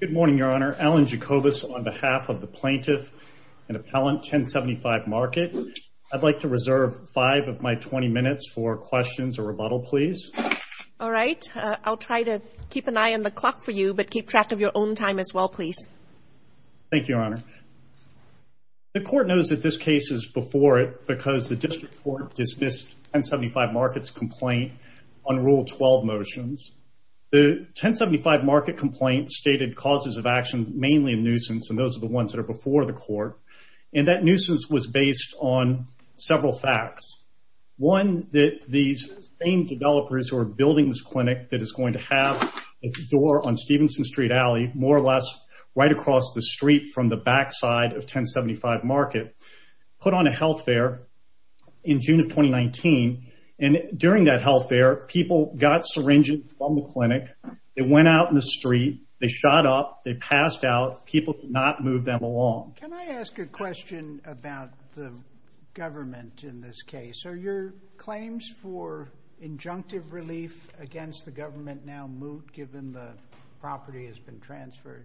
Good morning, Your Honor. Alan Jacobus on behalf of the plaintiff and appellant 1075 Market. I'd like to reserve five of my 20 minutes for questions or rebuttal, please. All right. I'll try to keep an eye on the clock for you, but keep track of your own time as well, please. Thank you, Your Honor. The court knows that this case is before it because the district court dismissed 1075 Market's complaint on Rule 12 motions. The 1075 Market complaint stated causes of action mainly in nuisance, and those are the ones that are before the court. And that nuisance was based on several facts. One, that these same developers who are building this clinic that is going to have its door on Stevenson Street Alley, more or less right across the street from the backside of 1075 Market, put on a health fair in June of 2019. And during that health fair, people got syringes from the clinic. They went out in the street. They shot up. They passed out. People could not move them along. Can I ask a question about the government in this case? Are your claims for injunctive relief against the government now moot given the property has been transferred?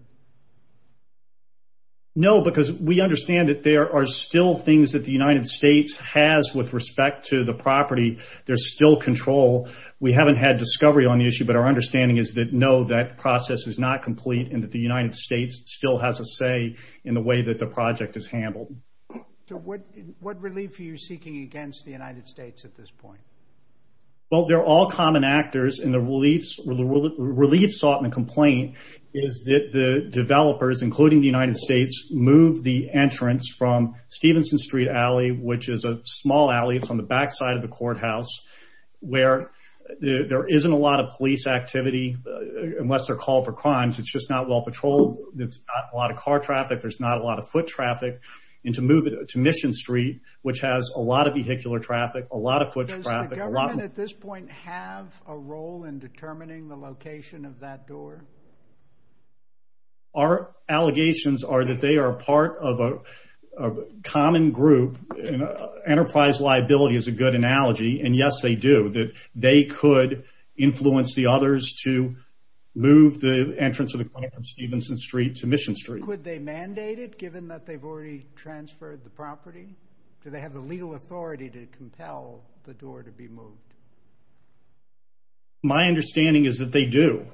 No, because we understand that there are still things that the United States has with respect to the property. There's still control. We haven't had discovery on the issue, but our understanding is that no, that process is not complete and that the United States still has a say in the way that the project is handled. So what relief are you seeking against the United States at this point? Well, they're all common actors, and the relief sought and complaint is that the developers, including the United States, move the entrance from Stevenson Street Alley, which is a small alley. It's on the backside of the courthouse where there isn't a lot of police activity unless they're called for crimes. It's just not well patrolled. That's not a lot of car traffic. There's not a lot of foot traffic into moving to Mission Street, which has a lot of vehicular traffic, a lot of foot traffic. A lot of this point have a role in determining the location of that door. Our allegations are that they are part of a common group. Enterprise liability is a good analogy, and yes, they do, that they could influence the others to move the entrance of the point from Stevenson Street to Mission Street. Could they mandate it given that they've already transferred the property? Do they have the legal authority to compel the door to be moved? My understanding is that they do.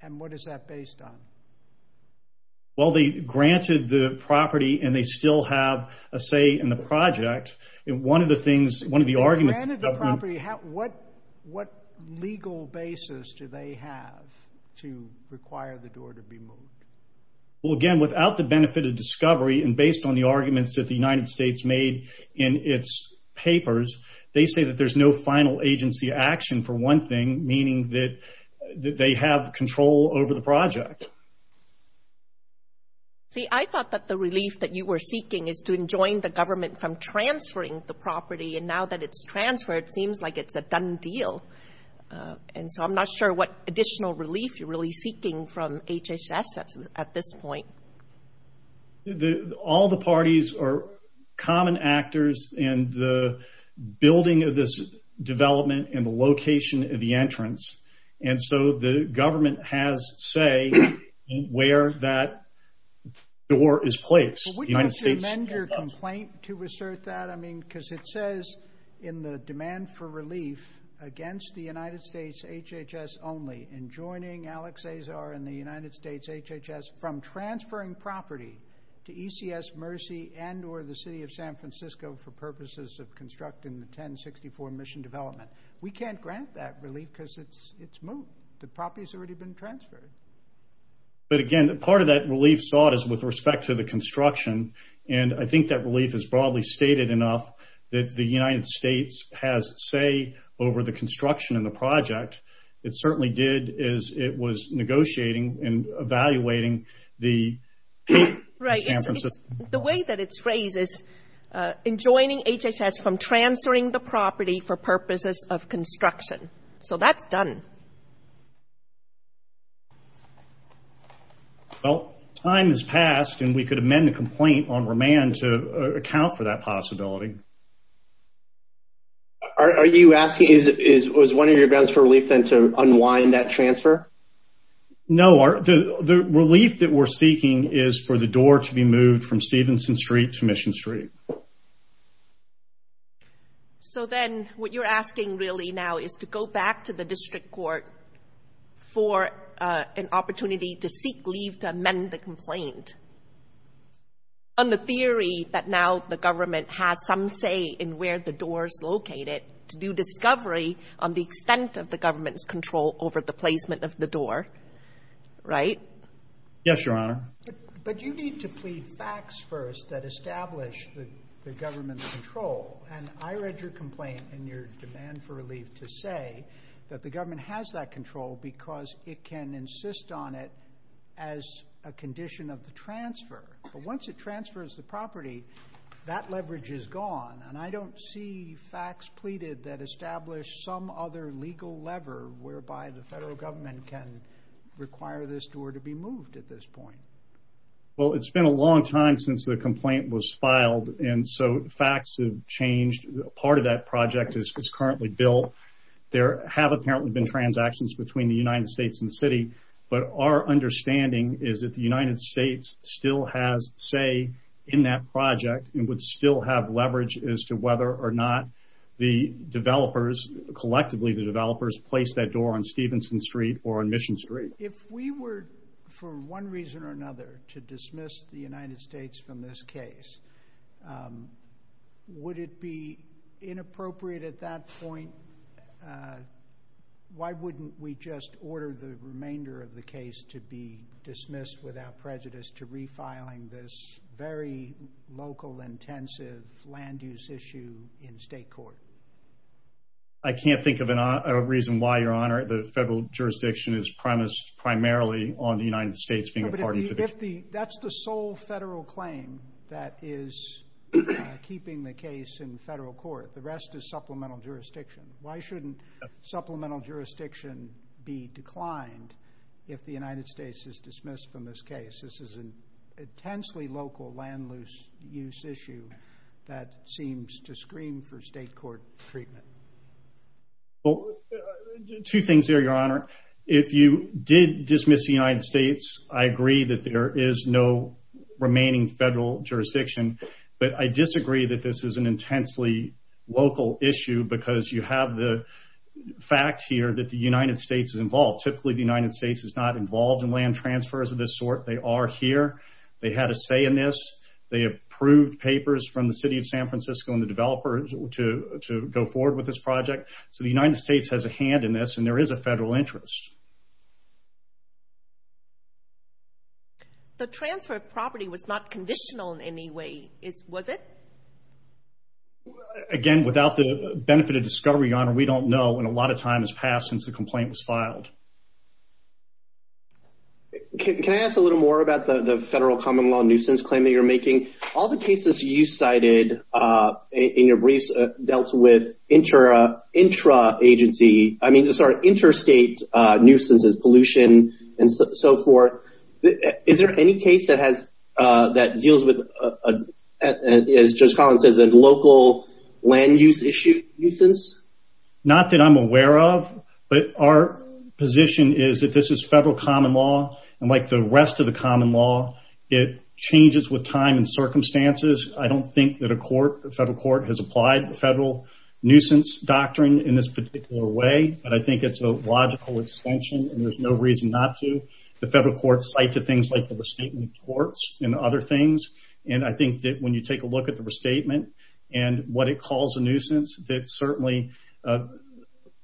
And what is that based on? Well, they granted the property and they still have a say in the project. And one of the things, one of the arguments... They granted the property. How, what, what legal basis do they have to require the door to be moved? Well, again, without the benefit of discovery and based on the arguments that the United States made in its papers, they say that there's no final agency action for one thing, meaning that they have control over the project. See, I thought that the relief that you were seeking is to enjoin the government from transferring the property, and now that it's transferred, seems like it's a done deal. And so I'm not sure what additional relief you're really seeking from HHS at this point. All the parties are common actors in the building of this development and the location of the entrance. And so the government has say where that door is placed. The United States... Well, would you amend your complaint to assert that? I mean, because it says in the demand for relief against the United States, HHS only, enjoining Alex Azar and the United States, from transferring property to ECS Mercy and or the city of San Francisco for purposes of constructing the 1064 mission development. We can't grant that relief because it's moved. The property's already been transferred. But again, part of that relief sought is with respect to the construction. And I think that relief is broadly stated enough that the United States has say over the construction and the project. It certainly did as it was negotiating and evaluating the... Right. The way that it's phrased is enjoining HHS from transferring the property for purposes of construction. So that's done. Well, time has passed and we could amend the complaint on remand to account for that possibility. Are you asking, was one of your relief then to unwind that transfer? No. The relief that we're seeking is for the door to be moved from Stevenson Street to Mission Street. So then what you're asking really now is to go back to the district court for an opportunity to seek leave to amend the complaint. On the theory that now the government has some say in where the door's located to do discovery on the extent of the government's control over the placement of the door. Right? Yes, Your Honor. But you need to plead facts first that establish the government's control. And I read your complaint in your demand for relief to say that the government has that control because it can insist on it as a condition of the transfer. But once it transfers the property, that leverage is gone. And I don't see facts pleaded that establish some other legal lever whereby the federal government can require this door to be moved at this point. Well, it's been a long time since the complaint was filed. And so facts have changed. Part of that project is currently built. There have apparently been transactions between the United States still has say in that project and would still have leverage as to whether or not the developers, collectively the developers, placed that door on Stevenson Street or on Mission Street. If we were, for one reason or another, to dismiss the United States from this case, would it be inappropriate at that point? Uh, why wouldn't we just order the remainder of the case to be dismissed without prejudice to refiling this very local intensive land use issue in state court? I can't think of a reason why, Your Honor. The federal jurisdiction is premised primarily on the United States being a part of it. That's the sole federal claim that is keeping the case in jurisdiction. Why shouldn't supplemental jurisdiction be declined if the United States is dismissed from this case? This is an intensely local landloose use issue that seems to scream for state court treatment. Well, two things here, Your Honor. If you did dismiss the United States, I agree that there is no remaining federal jurisdiction. But I disagree that this is an issue because you have the fact here that the United States is involved. Typically, the United States is not involved in land transfers of this sort. They are here. They had a say in this. They approved papers from the City of San Francisco and the developers to go forward with this project. So the United States has a hand in this, and there is a federal interest. The transfer of property was not conditional in any way, was it? Again, without the benefit of discovery, Your Honor, we don't know, and a lot of time has passed since the complaint was filed. Can I ask a little more about the federal common law nuisance claim that you're making? All the cases you cited in your briefs dealt with interstate nuisances, pollution, and so forth. Is there any case that deals with, as Judge Collins says, a local land use nuisance? Not that I'm aware of, but our position is that this is federal common law, and like the rest of the common law, it changes with time and circumstances. I don't think that a federal court has applied the federal nuisance doctrine in this particular way, but I think it's a logical extension, and there's no reason not to. The federal courts cite to things like the restatement of courts and other things, and I think that when you take a look at the restatement and what it calls a nuisance, that certainly a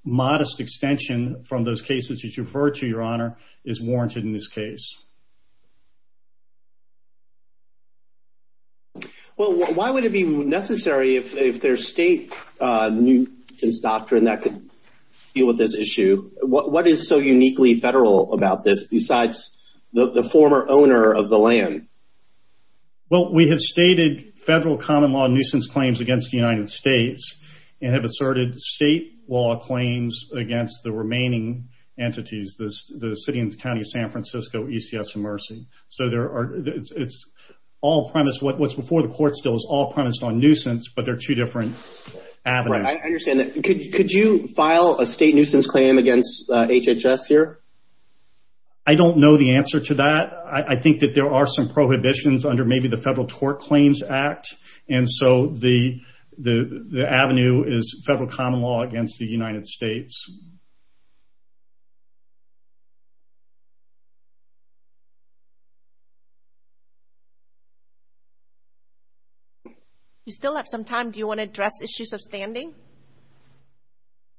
modest extension from those cases that you referred to, Your Honor, is warranted in this case. Well, why would it be necessary if there's state nuisance doctrine that could deal with this issue? What is so uniquely federal about this besides the former owner of the land? Well, we have stated federal common law nuisance claims against the United States and have asserted state law claims against the remaining entities, the City and County of San Francisco, ECS, and Mercy. What's before the court still is all two different avenues. I understand that. Could you file a state nuisance claim against HHS here? I don't know the answer to that. I think that there are some prohibitions under maybe the Federal Tort Claims Act, and so the avenue is federal common law against the United States. You still have some time. Do you want to address issues of standing?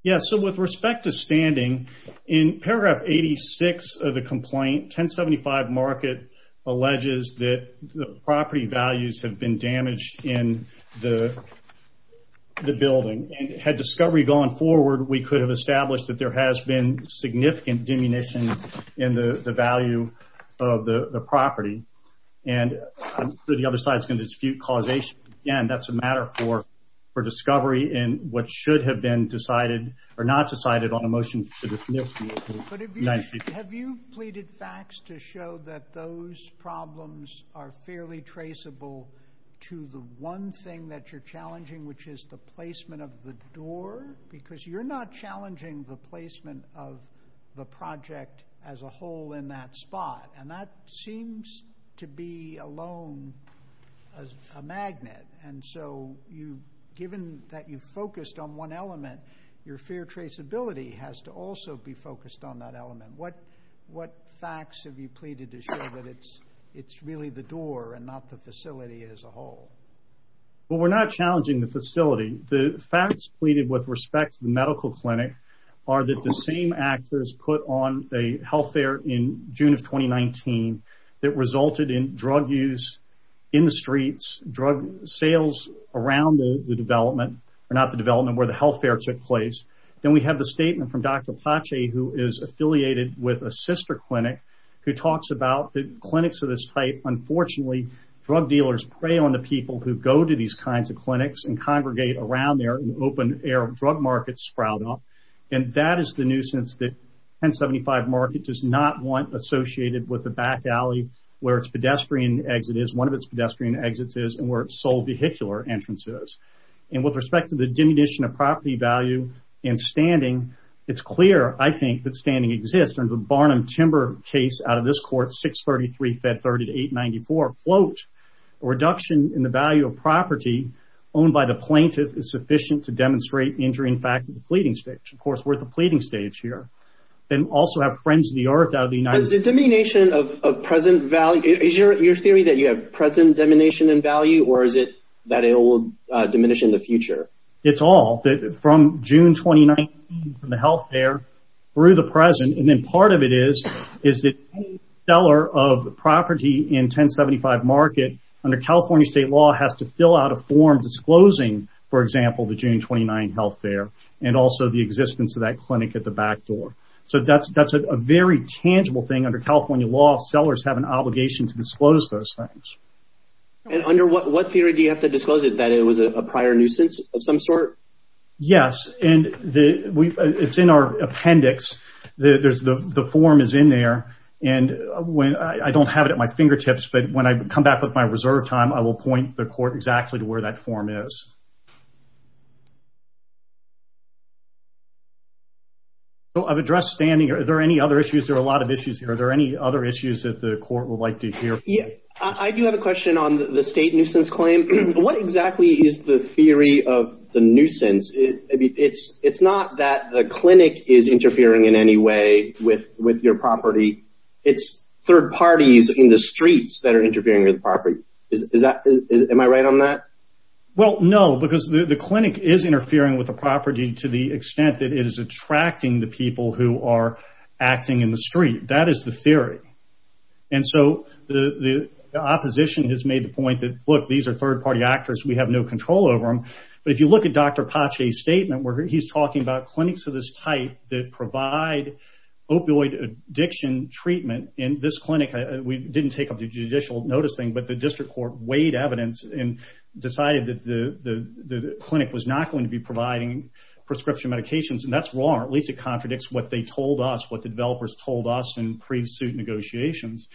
Yes. So, with respect to standing, in paragraph 86 of the complaint, 1075 Market alleges that the property values have been damaged in the building, and had discovery gone forward, we could have established that the property values had been damaged in the building. We could have established that there has been significant diminution in the value of the property, and the other side is going to dispute causation. Again, that's a matter for discovery in what should have been decided or not decided on a motion to dismiss the United States. Have you pleaded facts to show that those problems are fairly traceable to the one thing that you're the placement of the project as a whole in that spot, and that seems to be alone as a magnet, and so given that you've focused on one element, your fair traceability has to also be focused on that element. What facts have you pleaded to show that it's really the door and not the facility as a whole? Well, we're not challenging the facility. The facts pleaded with respect to the medical clinic are that the same actors put on a health fair in June of 2019 that resulted in drug use in the streets, drug sales around the development, or not the development where the health fair took place. Then we have the statement from Dr. Pache, who is affiliated with a sister clinic who talks about the clinics of this type. Unfortunately, drug dealers prey on the clinics and congregate around there, and open-air drug markets sprout up, and that is the nuisance that 1075 Market does not want associated with the back alley where its pedestrian exit is, one of its pedestrian exits is, and where its sole vehicular entrance is. With respect to the diminution of property value and standing, it's clear, I think, that standing exists. The Barnum Timber case out of this court, 633 Fed 3894, quote, a reduction in the value of property owned by the plaintiff is sufficient to demonstrate injury in fact of the pleading stage. Of course, we're at the pleading stage here, and also have friends of the earth out of the United States. Is your theory that you have present diminution in value, or is it that it will diminish in the future? It's all, from June 2019, from the health fair, through the present, and then part of it is that any seller of property in 1075 Market, under California state law, has to fill out a form disclosing, for example, the June 29 health fair, and also the existence of that clinic at the back door. So that's a very tangible thing. Under California law, sellers have an obligation to disclose those things. And under what theory do you have to disclose it, that it was a prior nuisance of some sort? Yes, and it's in our appendix. The form is in there, and I don't have it at my fingertips, but when I come back with my reserve time, I will point the court exactly to where that form is. So I've addressed standing. Are there any other issues? There are a lot of issues here. Are there any other issues that the court would like to hear? Yeah, I do have a question on the state nuisance. It's not that the clinic is interfering in any way with your property. It's third parties in the streets that are interfering with property. Am I right on that? Well, no, because the clinic is interfering with the property to the extent that it is attracting the people who are acting in the street. That is the theory. And so the opposition has made the point that, look, these third party actors, we have no control over them. But if you look at Dr. Pache's statement, where he's talking about clinics of this type that provide opioid addiction treatment in this clinic, we didn't take up the judicial noticing, but the district court weighed evidence and decided that the clinic was not going to be providing prescription medications. And that's wrong. At least it contradicts what they told us, what the developers told us in pre-suit negotiations.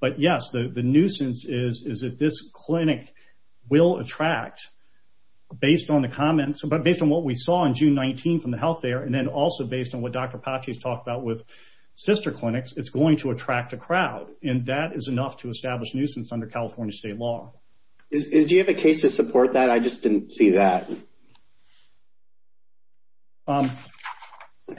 But yes, the nuisance is that this clinic will attract, based on the comments, but based on what we saw on June 19th from the health there, and then also based on what Dr. Pache's talked about with sister clinics, it's going to attract a crowd. And that is enough to establish nuisance under California state law. Do you have a case to support that? I just didn't see that. I'm sorry,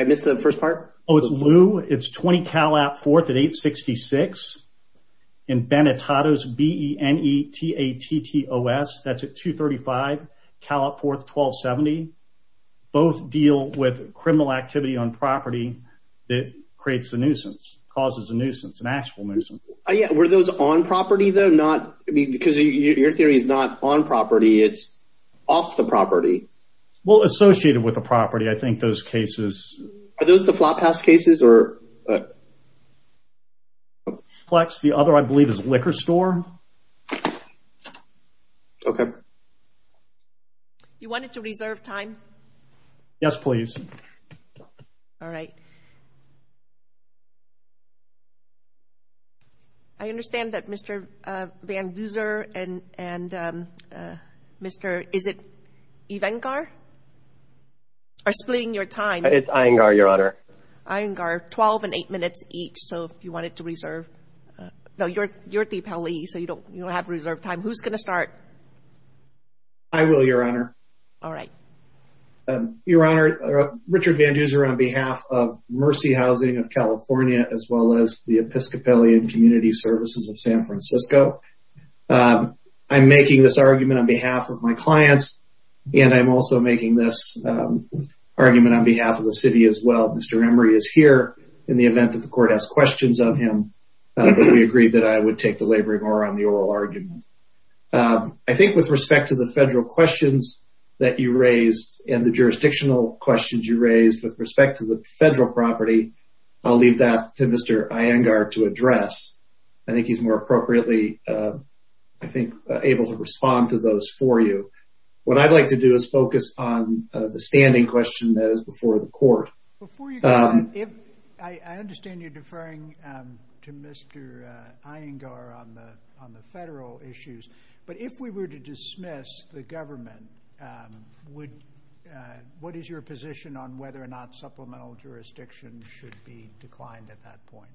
I missed the first part. Oh, it's Lou. It's 20 Cal App fourth at 866 in Benetados, B-E-N-E-T-A-T-T-O-S. That's at 235 Cal App fourth, 1270. Both deal with criminal activity on property that creates a nuisance, causes a nuisance, an actual nuisance. Were those on property though? Because your theory is not on property, it's off the property. Well, associated with the property, I think those cases... Are those the flop house cases? Flex, the other I believe is liquor store. Okay. You want it to reserve time? Yes, please. All right. I understand that Mr. Van Duzer and Mr... Is it Ivangar? Or splitting your time? It's Iyengar, Your Honor. Iyengar, 12 and eight minutes each. So if you want it to reserve... No, you're at the appellee, so you don't have reserved time. Who's going to start? I will, Your Honor. All right. Your Honor, Richard Van Duzer on behalf of Mercy Housing of California, as well as the Episcopalian Community Services of San Francisco. I'm making this argument on behalf of my clients, and I'm also making this argument on behalf of the city as well. Mr. Emery is here in the event that the court has questions of him, but we agreed that I would take the labor more on the oral argument. I think with respect to the federal questions that you raised and the jurisdictional questions you raised with respect to the federal property, I'll leave that to Mr. Iyengar to address. I think he's more appropriately, I think, able to respond to those for you. What I'd like to do is focus on the standing question that is before the court. Before you go, I understand you're deferring to Mr. Iyengar on the federal issues, but if we were to dismiss the government, what is your position on whether or not supplemental jurisdiction should be declined at that point?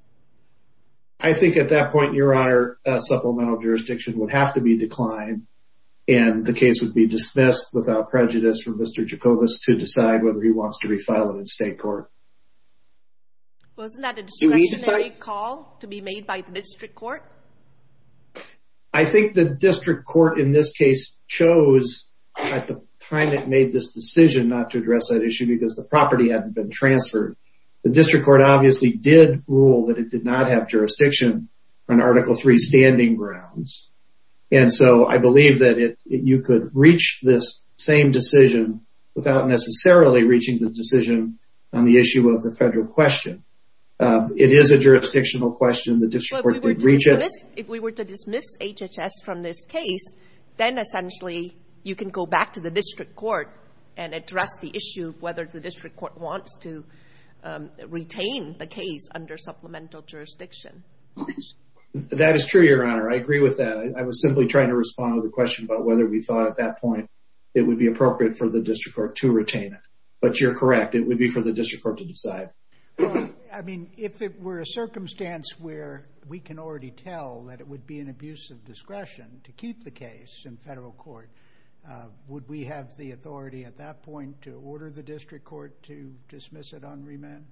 I think at that point, Your Honor, supplemental jurisdiction would have to be declined, and the case would be dismissed without prejudice from Mr. Jacobus to decide whether he wants to address that issue before the court. Wasn't that a discretionary call to be made by the district court? I think the district court in this case chose at the time it made this decision not to address that issue because the property hadn't been transferred. The district court obviously did rule that it did not have jurisdiction on Article III standing grounds, and so I believe that you could reach this same decision without necessarily reaching the decision on the issue of the federal question. It is a jurisdictional question. If we were to dismiss HHS from this case, then essentially you can go back to the district court and address the issue of whether the district court wants to retain the case under supplemental jurisdiction. Yes, that is true, Your Honor. I agree with that. I was simply trying to respond to the question about whether we thought at that point it would be appropriate for the district court to retain it, but you're correct. It would be for the district court to decide. I mean, if it were a circumstance where we can already tell that it would be an abuse of discretion to keep the case in federal court, would we have the authority at that point to order the district court to dismiss it on remand?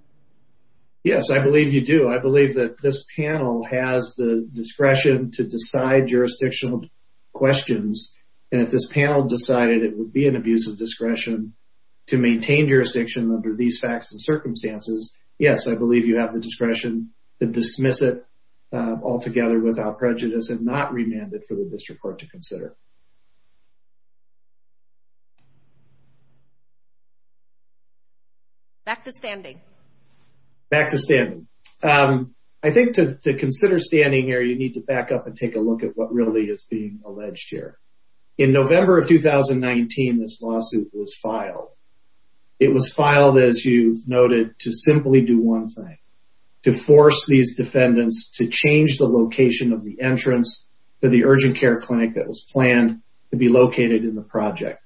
Yes, I believe you do. I believe that this panel has the discretion to decide jurisdictional questions, and if this panel decided it would be an abuse of discretion to maintain jurisdiction under these facts and circumstances, yes, I believe you have the discretion to dismiss it altogether without prejudice and not remand it for the district court to consider. Back to standing. Back to standing. I think to consider standing here, you need to back up and take a look at what really is being alleged here. In November of 2019, this lawsuit was filed. It was filed, as you've noted, to simply do one thing, to force these defendants to change the location of the urgent care clinic that was planned to be located in the project.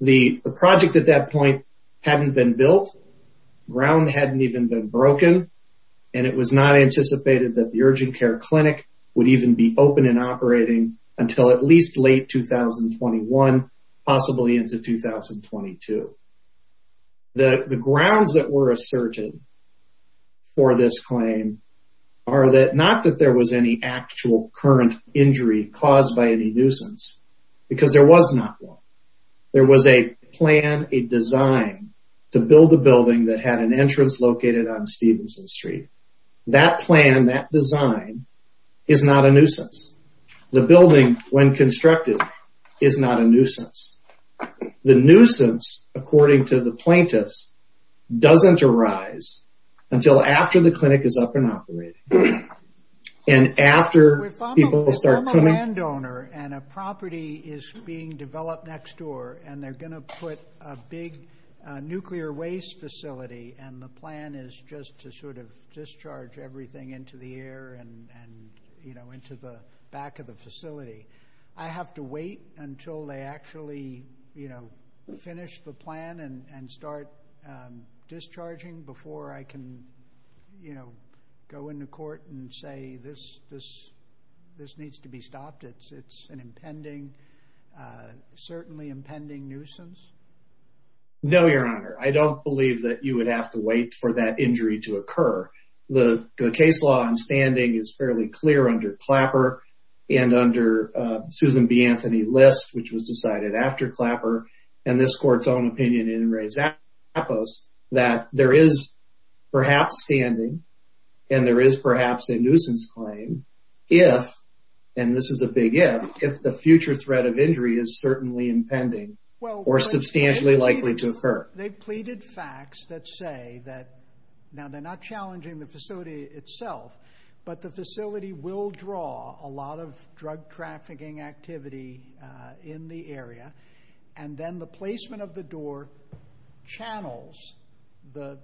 The project at that point hadn't been built, the ground hadn't even been broken, and it was not anticipated that the urgent care clinic would even be open and operating until at least late 2021, possibly into 2022. The grounds that were asserted for this claim are that not that there was any actual current injury caused by any nuisance, because there was not one. There was a plan, a design, to build a building that had an entrance located on Stevenson Street. That plan, that design, is not a nuisance. The building, when constructed, is not a nuisance. The nuisance, according to the plaintiffs, doesn't arise until after the clinic is up and operating. And after people start coming... If I'm a landowner and a property is being developed next door, and they're going to put a big nuclear waste facility, and the plan is just to sort of discharge everything into the air and into the back of the facility, I have to wait until they actually finish the plan and start discharging before I can go into court and say this needs to be stopped. It's an impending, certainly impending nuisance? No, Your Honor. I don't believe that you would have to wait for that injury to occur. The case law on standing is fairly clear under Clapper and under Susan B. Anthony List, which was decided after Clapper and this court's own opinion in Reza Pappos, that there is perhaps standing and there is perhaps a nuisance claim if, and this is a big if, if the future threat of injury is certainly impending or substantially likely to occur. They've pleaded facts that say that, now they're not challenging the facility itself, but the facility will draw a lot of drug trafficking activity in the area, and then the placement of the door channels the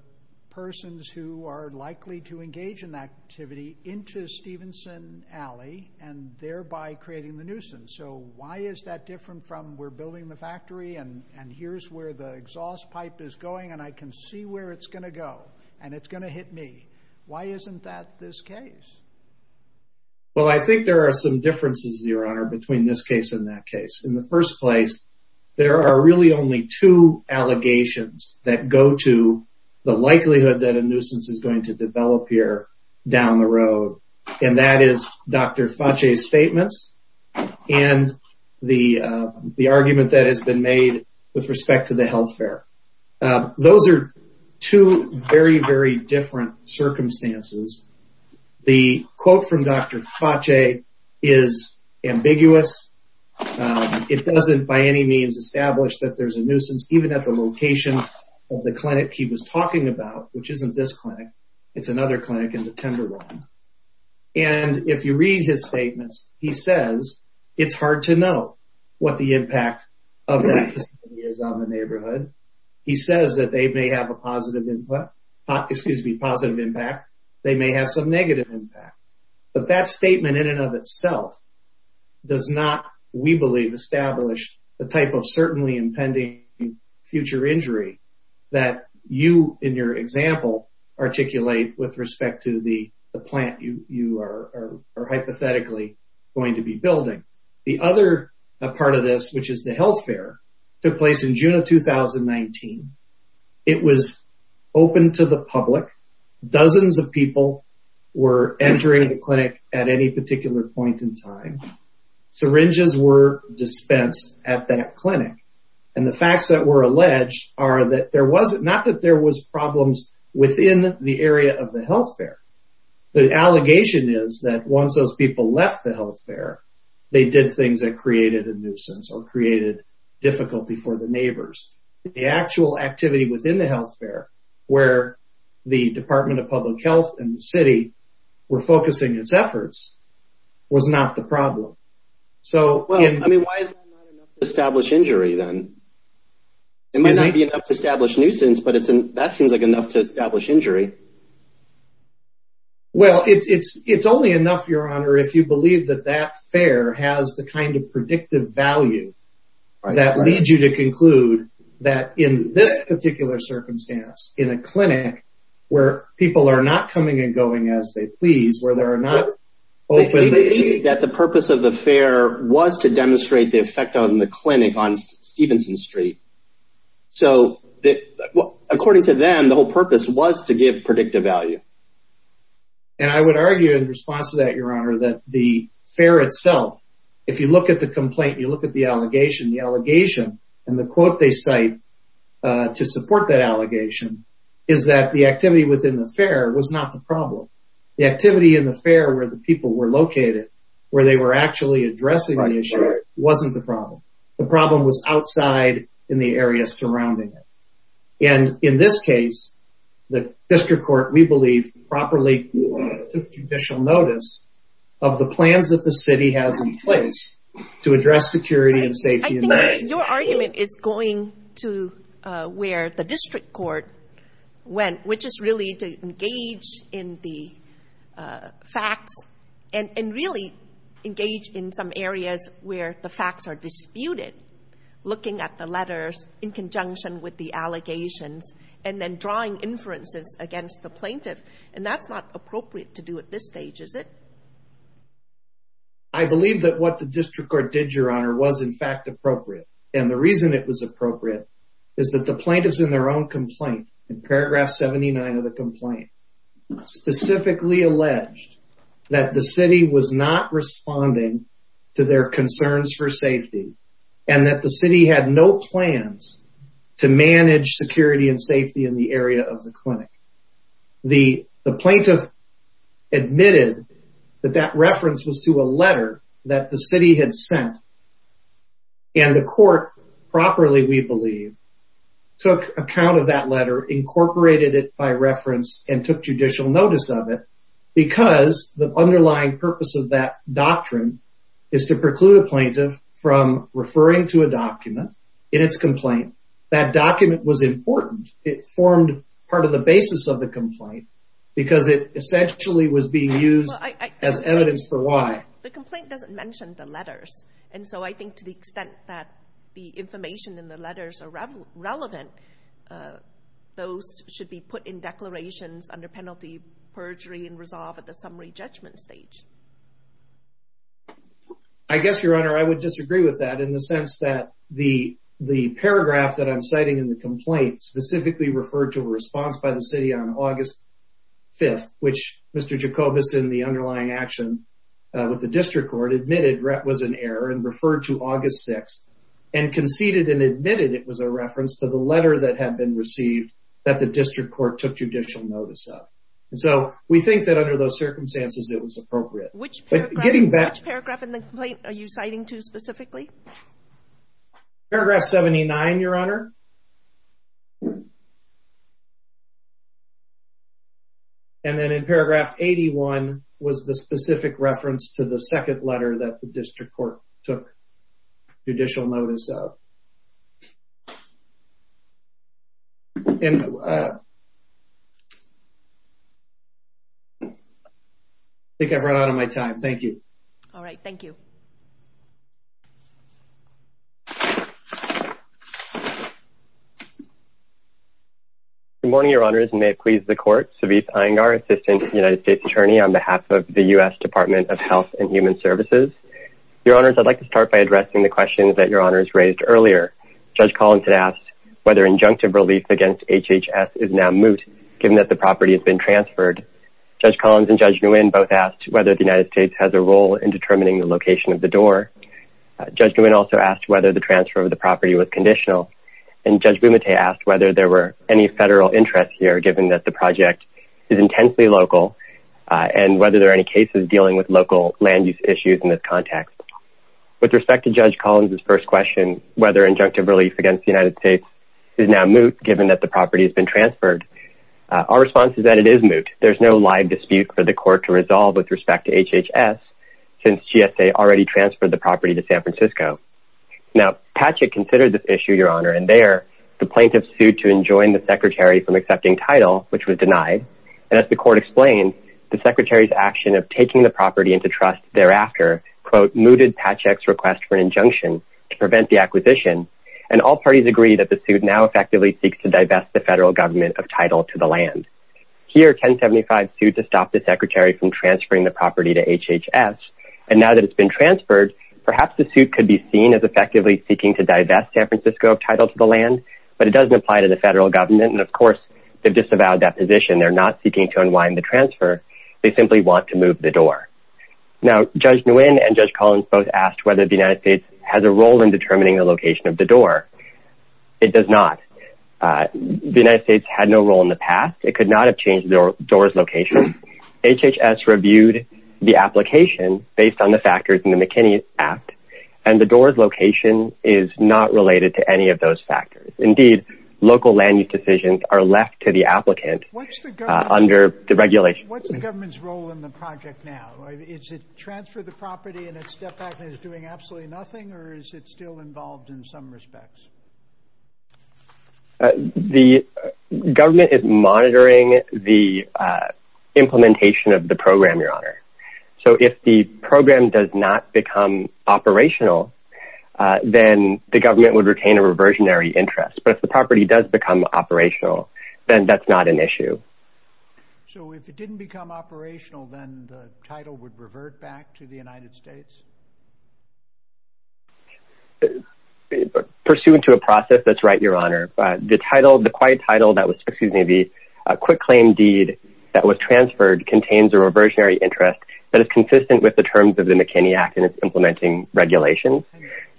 persons who are likely to engage in that activity into Stevenson Alley and thereby creating the nuisance. So why is that different from we're building the factory and here's where the exhaust pipe is going and I can see where it's going to go and it's going to hit me. Why isn't that this case? Well, I think there are some differences, Your Honor, between this case and that case. In the first place, there are really only two allegations that go to the likelihood that a nuisance is going to develop here down the road, and that is Dr. Fauci's statements and the argument that has been made with respect to the health fair. Those are two very, very different circumstances. The quote from Dr. Fauci is ambiguous. It doesn't by any means establish that there's a nuisance, even at the location of the clinic he was talking about, which isn't this clinic. It's another clinic in the Tenderloin. And if you read his statements, he says it's hard to know what the impact of that facility is on the neighborhood. He says that they may have a positive impact. They may have some negative impact. But that statement in and of itself does not, we believe, establish the type of certainly impending future injury that you, in your example, articulate with respect to the plant you are hypothetically going to be building. The other part of this, which is the health fair, took place in June of 2019. It was open to the public. Dozens of people were entering the clinic at any particular point in time. Syringes were dispensed at that clinic. And the facts that were alleged are that there was not that there was problems within the area of the health fair. The allegation is that once those people left the health fair, they did things that created a nuisance or created difficulty for the neighbors. The actual activity within the health fair, where the Department of Public Health and the city were focusing its efforts, was not the problem. Why is that not enough to establish injury, then? It might not be enough to establish nuisance, but that seems enough to establish injury. Well, it's only enough, Your Honor, if you believe that that fair has the kind of predictive value that leads you to conclude that in this particular circumstance, in a clinic, where people are not coming and going as they please, where they are not open... That the purpose of the fair was to demonstrate the effect on the clinic on purpose was to give predictive value. And I would argue in response to that, Your Honor, that the fair itself, if you look at the complaint, you look at the allegation, the allegation, and the quote they cite to support that allegation, is that the activity within the fair was not the problem. The activity in the fair where the people were located, where they were actually addressing the issue wasn't the problem. The problem was outside in the area surrounding it. And in this case, the district court, we believe, properly took judicial notice of the plans that the city has in place to address security and safety. Your argument is going to where the district court went, which is really to engage in the facts and really engage in some areas where the facts are disputed, looking at the letters in conjunction with the allegations, and then drawing inferences against the plaintiff. And that's not appropriate to do at this stage, is it? I believe that what the district court did, Your Honor, was in fact appropriate. And the reason it was appropriate is that the plaintiffs in their own complaint, in paragraph 79 of the complaint, specifically alleged that the city was not responding to their concerns for safety and that the city had no plans to manage security and safety in the area of the clinic. The plaintiff admitted that that reference was to a letter that the city had sent. And the court, properly we believe, took account of that letter, incorporated it by and took judicial notice of it because the underlying purpose of that doctrine is to preclude a plaintiff from referring to a document in its complaint. That document was important. It formed part of the basis of the complaint because it essentially was being used as evidence for why. The complaint doesn't mention the letters. And so I think to the extent that the information in the letters are relevant, those should be put in declarations under penalty perjury and resolve at the summary judgment stage. I guess, Your Honor, I would disagree with that in the sense that the paragraph that I'm citing in the complaint specifically referred to a response by the city on August 5th, which Mr. Jacobus, in the underlying action with the district court, admitted was an error and conceded and admitted it was a reference to the letter that had been received that the district court took judicial notice of. And so we think that under those circumstances, it was appropriate. Which paragraph in the complaint are you citing to specifically? Paragraph 79, Your Honor. And then in paragraph 81 was the specific reference to the second letter that the district court took judicial notice of. I think I've run out of my time. Thank you. All right. Thank you. Good morning, Your Honors. And may it please the court, Savit Iyengar, Assistant United States Attorney on behalf of the U.S. Department of Health and Human Services. Your Honors, I'd like to start by addressing the questions that Your Honors raised earlier. Judge Collins had asked whether injunctive relief against HHS is now moot, given that the property has been transferred. Judge Collins and Judge Nguyen both asked whether the United States has a role in determining the location of the door. Judge Nguyen also asked whether the transfer of the property was conditional. And Judge Bumate asked whether there were any federal interests here, given that the project is intensely local and whether there are any cases dealing with local land use issues in this context. With respect to Judge Collins' first question, whether injunctive relief against the United States is now moot, given that the property has been transferred, our response is that it is moot. There's no live dispute for the court to resolve with respect to HHS, since GSA already transferred the property to San Francisco. Now, Patchett considered this issue, Your Honor, and there the plaintiffs sued to enjoin the secretary from accepting title, which was denied. And as the court explained, the secretary's action of taking the property into trust thereafter, quote, mooted Patchett's request for an injunction to prevent the acquisition. And all parties agree that the suit now effectively seeks to divest the federal government of title to the land. Here, 1075 sued to stop the secretary from transferring the property to HHS. And now that it's been transferred, perhaps the suit could be seen as effectively seeking to divest San Francisco of title to the land, but it doesn't apply to the federal government. And of course, they've disavowed that position. They're not seeking to unwind the transfer. They simply want to move the door. Now, Judge Nguyen and Judge Collins both asked whether the United States has a role in determining the location of the door. It does not. The United States had no role in the past. It could not have changed the door's location. HHS reviewed the application based on the factors in the McKinney Act, and the door's location is not related to any of those factors. Indeed, local land use decisions are left to the applicant under the regulation. What's the government's role in the project now? Is it transfer the property and it's stepped back and is doing absolutely nothing? Or is it still involved in some respects? The government is monitoring the implementation of the program, Your Honor. So if the program does not become operational, then the government would retain a reversionary interest. But if the does become operational, then that's not an issue. So if it didn't become operational, then the title would revert back to the United States. Pursuant to a process that's right, Your Honor, the title, the quiet title that was, excuse me, the quick claim deed that was transferred contains a reversionary interest that is consistent with the terms of the McKinney Act and its implementing regulations.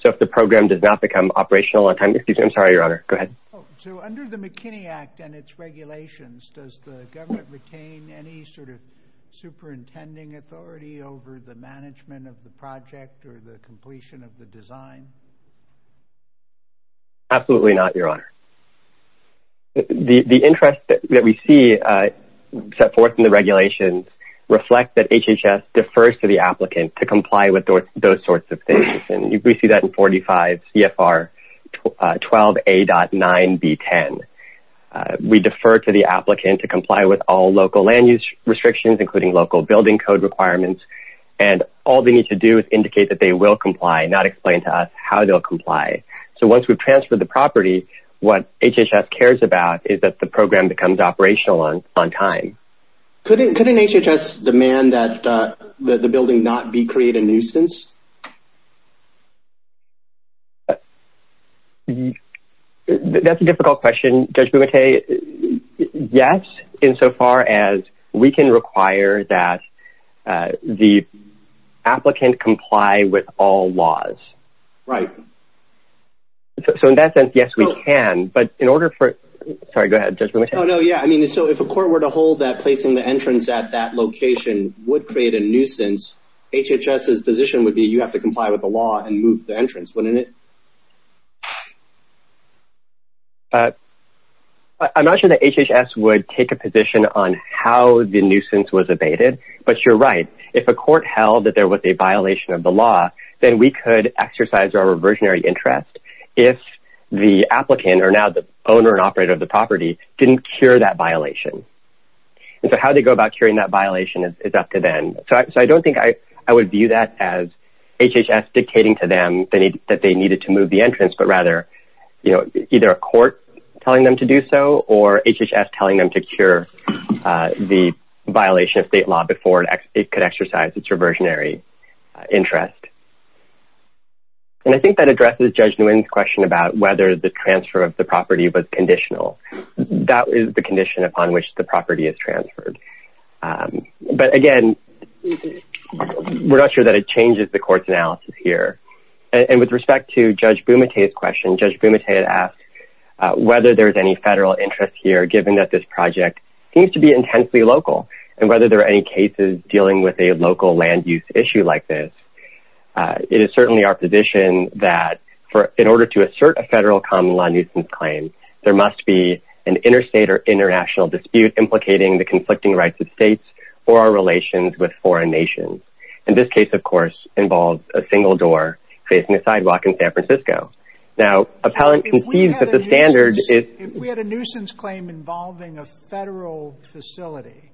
So if the program does not become operational, excuse me, I'm sorry, Your Honor, go ahead. So under the McKinney Act and its regulations, does the government retain any sort of superintending authority over the management of the project or the completion of the design? Absolutely not, Your Honor. The interest that we see set forth in the regulations reflect that HHS defers to the applicant to comply with those sorts of things. And we see that in 45 CFR 12A.9B10. We defer to the applicant to comply with all local land use restrictions, including local building code requirements. And all they need to do is indicate that they will comply, not explain to us how they'll comply. So once we've transferred the property, what HHS cares about is that the program becomes operational on time. Couldn't HHS demand that the building not be created a nuisance? That's a difficult question, Judge Bumate. Yes, insofar as we can require that the applicant comply with all laws. Right. So in that sense, yes, we can. But in order for, sorry, go ahead, Judge Bumate. Oh, no. Yeah. I mean, so if a court were to hold that placing the entrance at that location would create a nuisance, HHS's position would be you have to comply with the law and move the entrance, wouldn't it? I'm not sure that HHS would take a position on how the nuisance was abated, but you're right. If a court held that there was a violation of the law, then we could exercise our reversionary interest if the applicant, or now the owner and operator of the property, didn't cure that violation. And so how they go about curing that violation is up to them. So I don't think I would view that as HHS dictating to them that they needed to move the entrance, but rather, you know, either a court telling them to do so or HHS telling them to cure the violation of state law before it could exercise its reversionary interest. And I think that addresses Judge Nguyen's question about whether the transfer of the property was conditional. That is the condition upon which the property is transferred. But again, we're not sure that it changes the court's analysis here. And with respect to Judge Bumate's question, Judge seems to be intensely local. And whether there are any cases dealing with a local land use issue like this, it is certainly our position that in order to assert a federal common law nuisance claim, there must be an interstate or international dispute implicating the conflicting rights of states or our relations with foreign nations. And this case, of course, involves a single door facing a sidewalk in San Francisco. Now, Appellant concedes that the standard is... facility.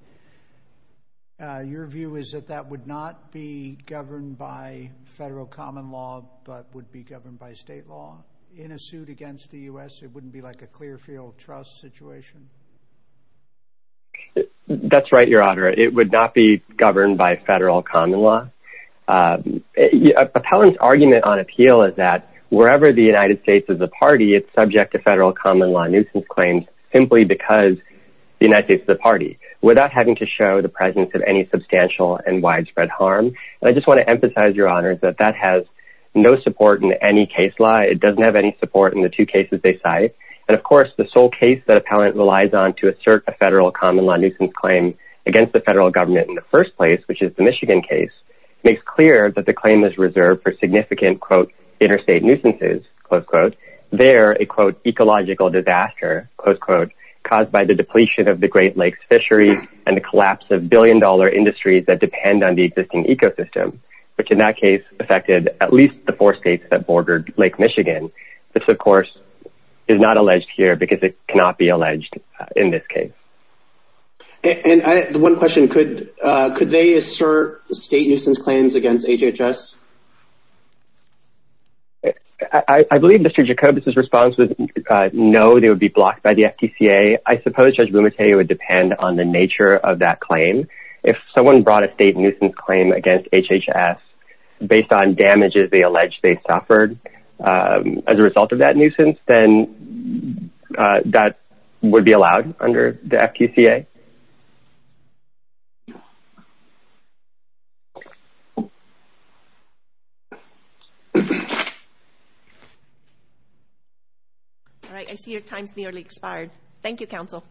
Your view is that that would not be governed by federal common law, but would be governed by state law in a suit against the U.S.? It wouldn't be like a Clearfield Trust situation? That's right, Your Honor. It would not be governed by federal common law. Appellant's argument on appeal is that wherever the United States is a party, it's subject to federal common law nuisance claims simply because the United States is a party, without having to show the presence of any substantial and widespread harm. And I just want to emphasize, Your Honor, that that has no support in any case law. It doesn't have any support in the two cases they cite. And of course, the sole case that Appellant relies on to assert a federal common law nuisance claim against the federal government in the first place, which is the Michigan case, makes clear that the claim is reserved for significant, quote, interstate nuisances, close quote. They're a, quote, ecological disaster, close quote, caused by the depletion of the Great Lakes fisheries and the collapse of billion-dollar industries that depend on the existing ecosystem, which in that case affected at least the four states that bordered Lake Michigan. This, of course, is not alleged here because it cannot be alleged in this case. And one question, could they assert state nuisance claims against HHS? I believe Mr. Jacobus' response was no, they would be blocked by the FTCA. I suppose Judge Bumateu would depend on the nature of that claim. If someone brought a state nuisance claim against HHS based on damages they allege they suffered as a result of that nuisance, then that would be allowed under the FTCA. All right, I see your time's nearly expired. Thank you, counsel.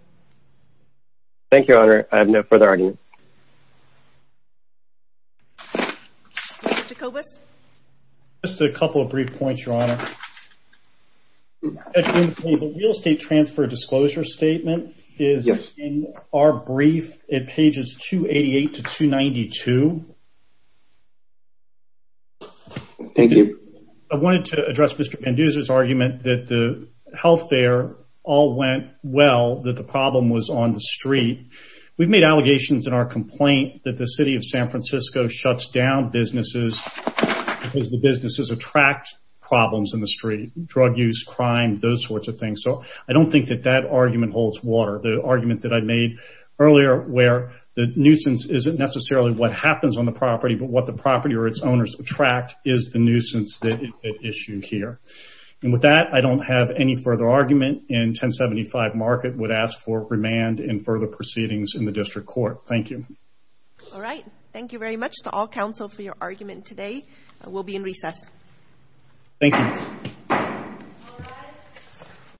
Thank you, Your Honor. I have no further arguments. Mr. Jacobus? Just a couple of brief points, Your Honor. Judge Bumateu, the real estate transfer disclosure statement is in our brief at pages 288 to 292. Thank you. I wanted to address Mr. Panduza's argument that the health there all went well, that the problem was on the street. We've made allegations in our complaint that the city of drug use, crime, those sorts of things. So I don't think that that argument holds water. The argument that I made earlier where the nuisance isn't necessarily what happens on the property, but what the property or its owners attract is the nuisance that it issued here. And with that, I don't have any further argument and 1075 Market would ask for remand and further proceedings in the district court. Thank you. All right, thank you very much to all counsel for your argument today. We'll be in recess. Thank you.